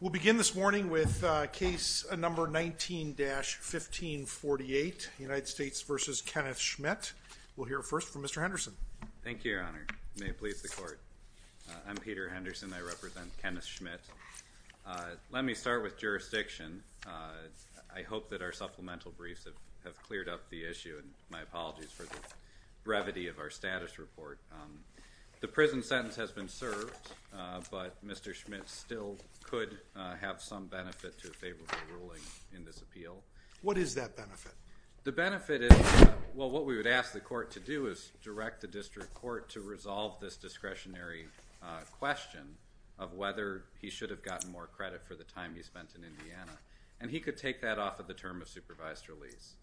We'll begin this morning with case number 19-1548, United States v. Kenneth Schmitt. We'll hear first from Mr. Henderson. Thank you, Your Honor. May it please the Court. I'm Peter Henderson. I represent Kenneth Schmitt. Let me start with jurisdiction. I hope that our supplemental briefs have cleared up the issue, and my apologies for the brevity of our status report. The prison sentence has been served, but Mr. Schmitt still could have some benefit to a favorable ruling in this appeal. What is that benefit? The benefit is, well, what we would ask the Court to do is direct the district court to resolve this discretionary question of whether he should have gotten more credit for the time he spent in Indiana, and he could take that off of the term of supervised release.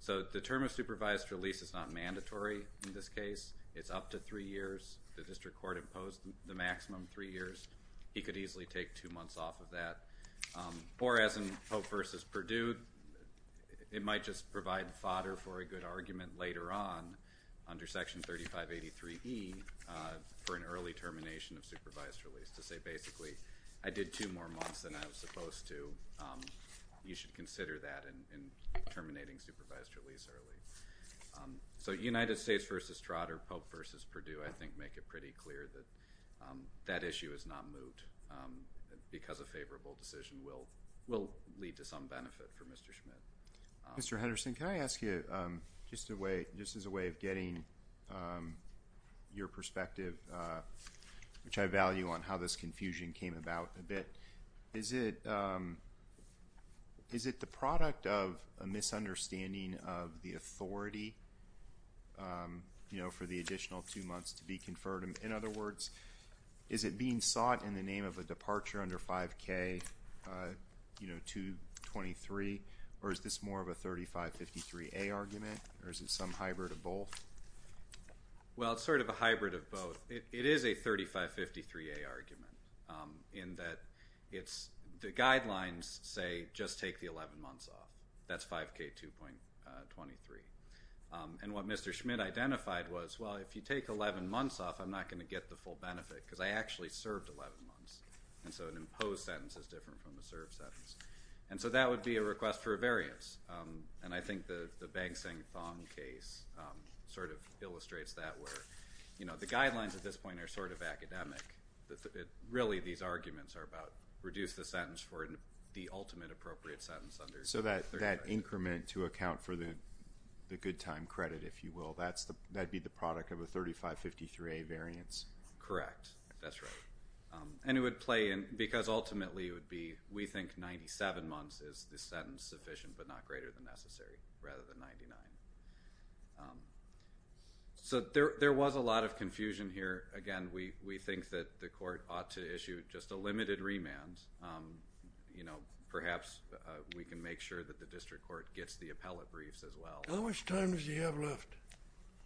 So the term of supervised release is not mandatory in this case. It's up to three years. The district court imposed the maximum three years. He could easily take two months off of that. Or, as in Pope v. Perdue, it might just provide fodder for a good argument later on under Section 3583E for an early termination of supervised release to say basically, I did two more months than I was supposed to. You should consider that in terminating supervised release early. So United States v. Trotter, Pope v. Perdue, I think make it pretty clear that that issue is not moved because a favorable decision will lead to some benefit for Mr. Schmidt. Mr. Henderson, can I ask you, just as a way of getting your perspective, which I value on how this confusion came about a bit, is it the product of a misunderstanding of the authority for the additional two months to be conferred? In other words, is it being sought in the name of a departure under 5K223, or is this more of a 3553A argument, or is it some hybrid of both? Well, it's sort of a hybrid of both. It is a 3553A argument in that the guidelines say just take the 11 months off. That's 5K2.23. And what Mr. Schmidt identified was, well, if you take 11 months off, I'm not going to get the full benefit because I actually served 11 months. And so an imposed sentence is different from a served sentence. And so that would be a request for a variance. And I think the Bang-Seng-Thong case sort of illustrates that, where the guidelines at this point are sort of academic. Really, these arguments are about reduce the sentence for the ultimate appropriate sentence. So that increment to account for the good time credit, if you will, that would be the product of a 3553A variance? Correct. That's right. And it would play in because ultimately it would be we think 97 months is the sentence sufficient but not greater than necessary rather than 99. So there was a lot of confusion here. Again, we think that the court ought to issue just a limited remand. Perhaps we can make sure that the district court gets the appellate briefs as well. How much time does he have left?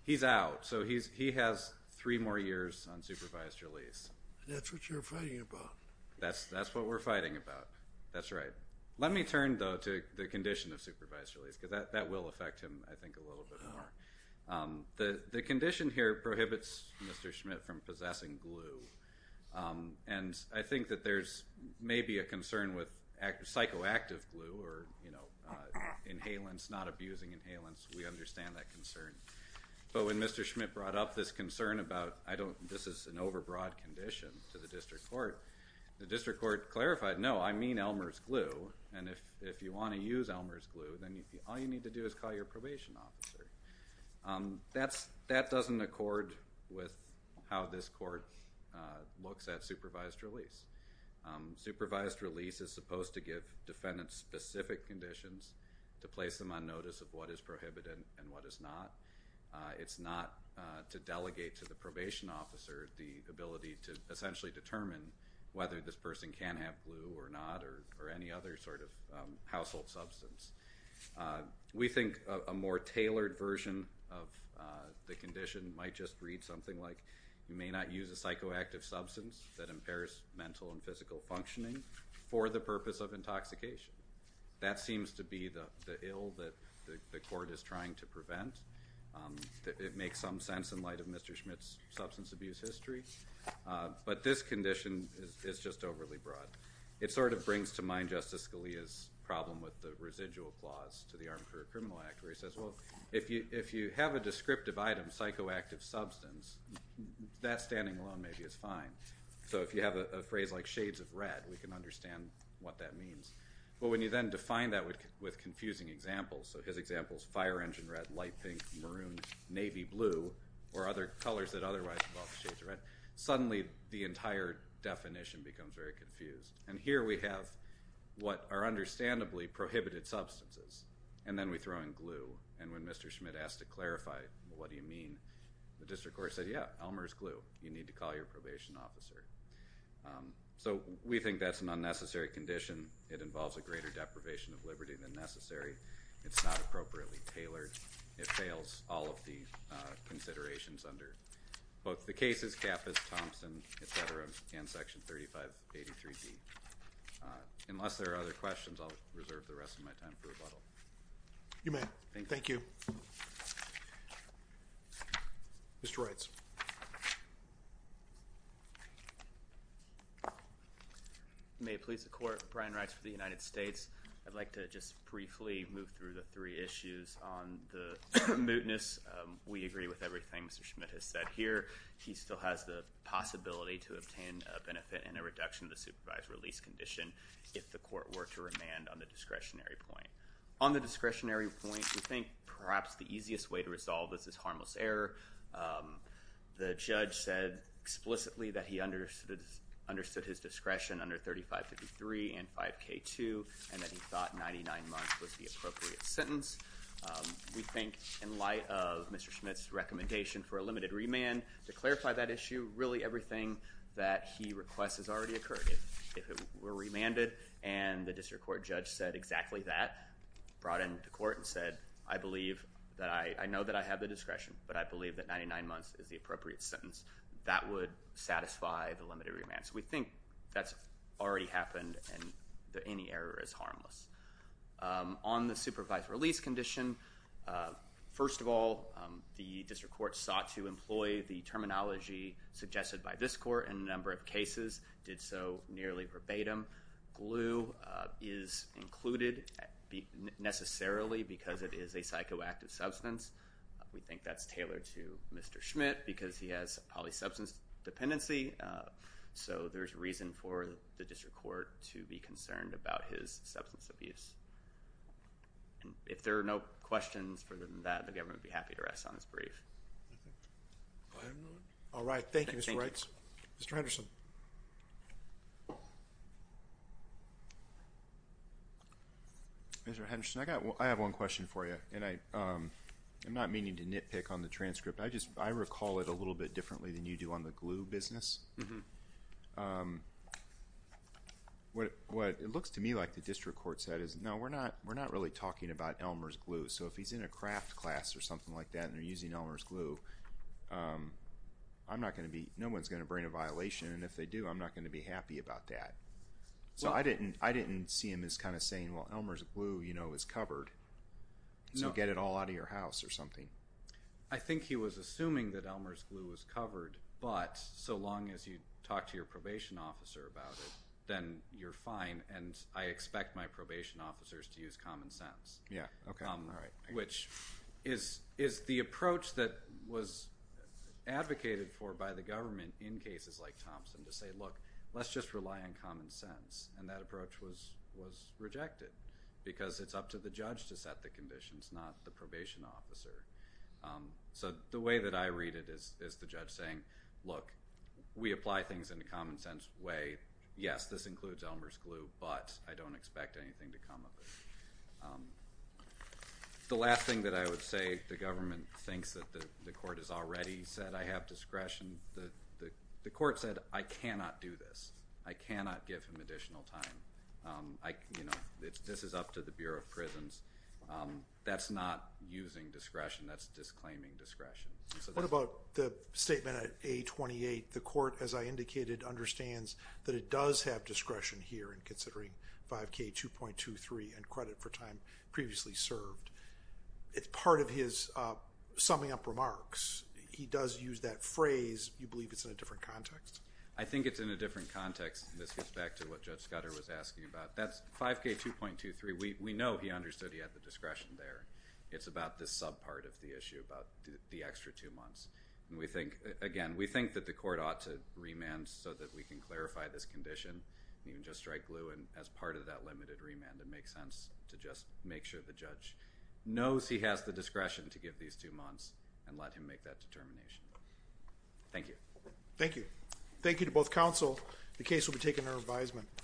He's out. So he has three more years on supervised release. That's what you're fighting about. That's what we're fighting about. That's right. Let me turn, though, to the condition of supervised release because that will affect him, I think, a little bit more. The condition here prohibits Mr. Schmidt from possessing glue. And I think that there's maybe a concern with psychoactive glue or inhalants, not abusing inhalants. We understand that concern. But when Mr. Schmidt brought up this concern about this is an overbroad condition to the district court, the district court clarified, no, I mean Elmer's glue, and if you want to use Elmer's glue, then all you need to do is call your probation officer. That doesn't accord with how this court looks at supervised release. Supervised release is supposed to give defendants specific conditions to place them on notice of what is prohibited and what is not. It's not to delegate to the probation officer the ability to essentially determine whether this person can have glue or not or any other sort of household substance. We think a more tailored version of the condition might just read something like you may not use a psychoactive substance that impairs mental and physical functioning for the purpose of intoxication. That seems to be the ill that the court is trying to prevent. It makes some sense in light of Mr. Schmidt's substance abuse history. But this condition is just overly broad. It sort of brings to mind Justice Scalia's problem with the residual clause to the Armed Career Criminal Act where he says, well, if you have a descriptive item, psychoactive substance, that standing alone maybe is fine. So if you have a phrase like shades of red, we can understand what that means. But when you then define that with confusing examples, so his example is fire engine red, light pink, maroon, navy blue, or other colors that otherwise involve shades of red, suddenly the entire definition becomes very confused. And here we have what are understandably prohibited substances, and then we throw in glue. And when Mr. Schmidt asked to clarify what do you mean, the district court said, yeah, Elmer's glue. You need to call your probation officer. So we think that's an unnecessary condition. It involves a greater deprivation of liberty than necessary. It's not appropriately tailored. It fails all of the considerations under both the cases, Kappas, Thompson, et cetera, and Section 3583B. Unless there are other questions, I'll reserve the rest of my time for rebuttal. You may. Thank you. Mr. Reitz. May it please the Court, Brian Reitz for the United States. I'd like to just briefly move through the three issues on the mootness. We agree with everything Mr. Schmidt has said here. He still has the possibility to obtain a benefit and a reduction of the supervised release condition if the court were to remand on the discretionary point. On the discretionary point, we think perhaps the easiest way to resolve this is harmless error. The judge said explicitly that he understood his discretion under 3553 and 5K2, and that he thought 99 months was the appropriate sentence. We think in light of Mr. Schmidt's recommendation for a limited remand, to clarify that issue, really everything that he requests has already occurred. If it were remanded and the district court judge said exactly that, brought it into court and said, I know that I have the discretion, but I believe that 99 months is the appropriate sentence, that would satisfy the limited remand. We think that's already happened and any error is harmless. On the supervised release condition, first of all the district court sought to employ the terminology suggested by this court in a number of cases, did so nearly verbatim. Glue is included necessarily because it is a psychoactive substance. We think that's tailored to Mr. Schmidt because he has polysubstance dependency. There's reason for the district court to be concerned about his substance abuse. If there are no questions further than that, the government would be happy to rest on his brief. All right. Thank you, Mr. Wrights. Mr. Henderson. Mr. Henderson, I have one question for you. I'm not meaning to nitpick on the transcript. I recall it a little bit differently than you do on the glue business. What it looks to me like the district court said is, no, we're not really talking about Elmer's glue. So if he's in a craft class or something like that and they're using Elmer's glue, no one's going to bring a violation, and if they do, I'm not going to be happy about that. So I didn't see him as kind of saying, well, Elmer's glue is covered, so get it all out of your house or something. I think he was assuming that Elmer's glue was covered, but so long as you talk to your probation officer about it, then you're fine, and I expect my probation officers to use common sense, which is the approach that was advocated for by the government in cases like Thompson, to say, look, let's just rely on common sense, and that approach was rejected because it's up to the judge to set the conditions, not the probation officer. So the way that I read it is the judge saying, look, we apply things in a common sense way. Yes, this includes Elmer's glue, but I don't expect anything to come of it. The last thing that I would say, the government thinks that the court has already said, I have discretion. The court said, I cannot do this. I cannot give him additional time. This is up to the Bureau of Prisons. That's not using discretion. That's disclaiming discretion. What about the statement at A28, the court, as I indicated, understands that it does have discretion here in considering 5K2.23 and credit for time previously served. It's part of his summing up remarks. He does use that phrase. Do you believe it's in a different context? I think it's in a different context, and this goes back to what Judge Scudder was asking about. That's 5K2.23. We know he understood he had the discretion there. It's about this subpart of the issue, about the extra two months. And we think, again, we think that the court ought to remand so that we can clarify this condition and even just strike glue as part of that limited remand. It makes sense to just make sure the judge knows he has the discretion to give these two months and let him make that determination. Thank you. Thank you. Thank you to both counsel. The case will be taken under advisement.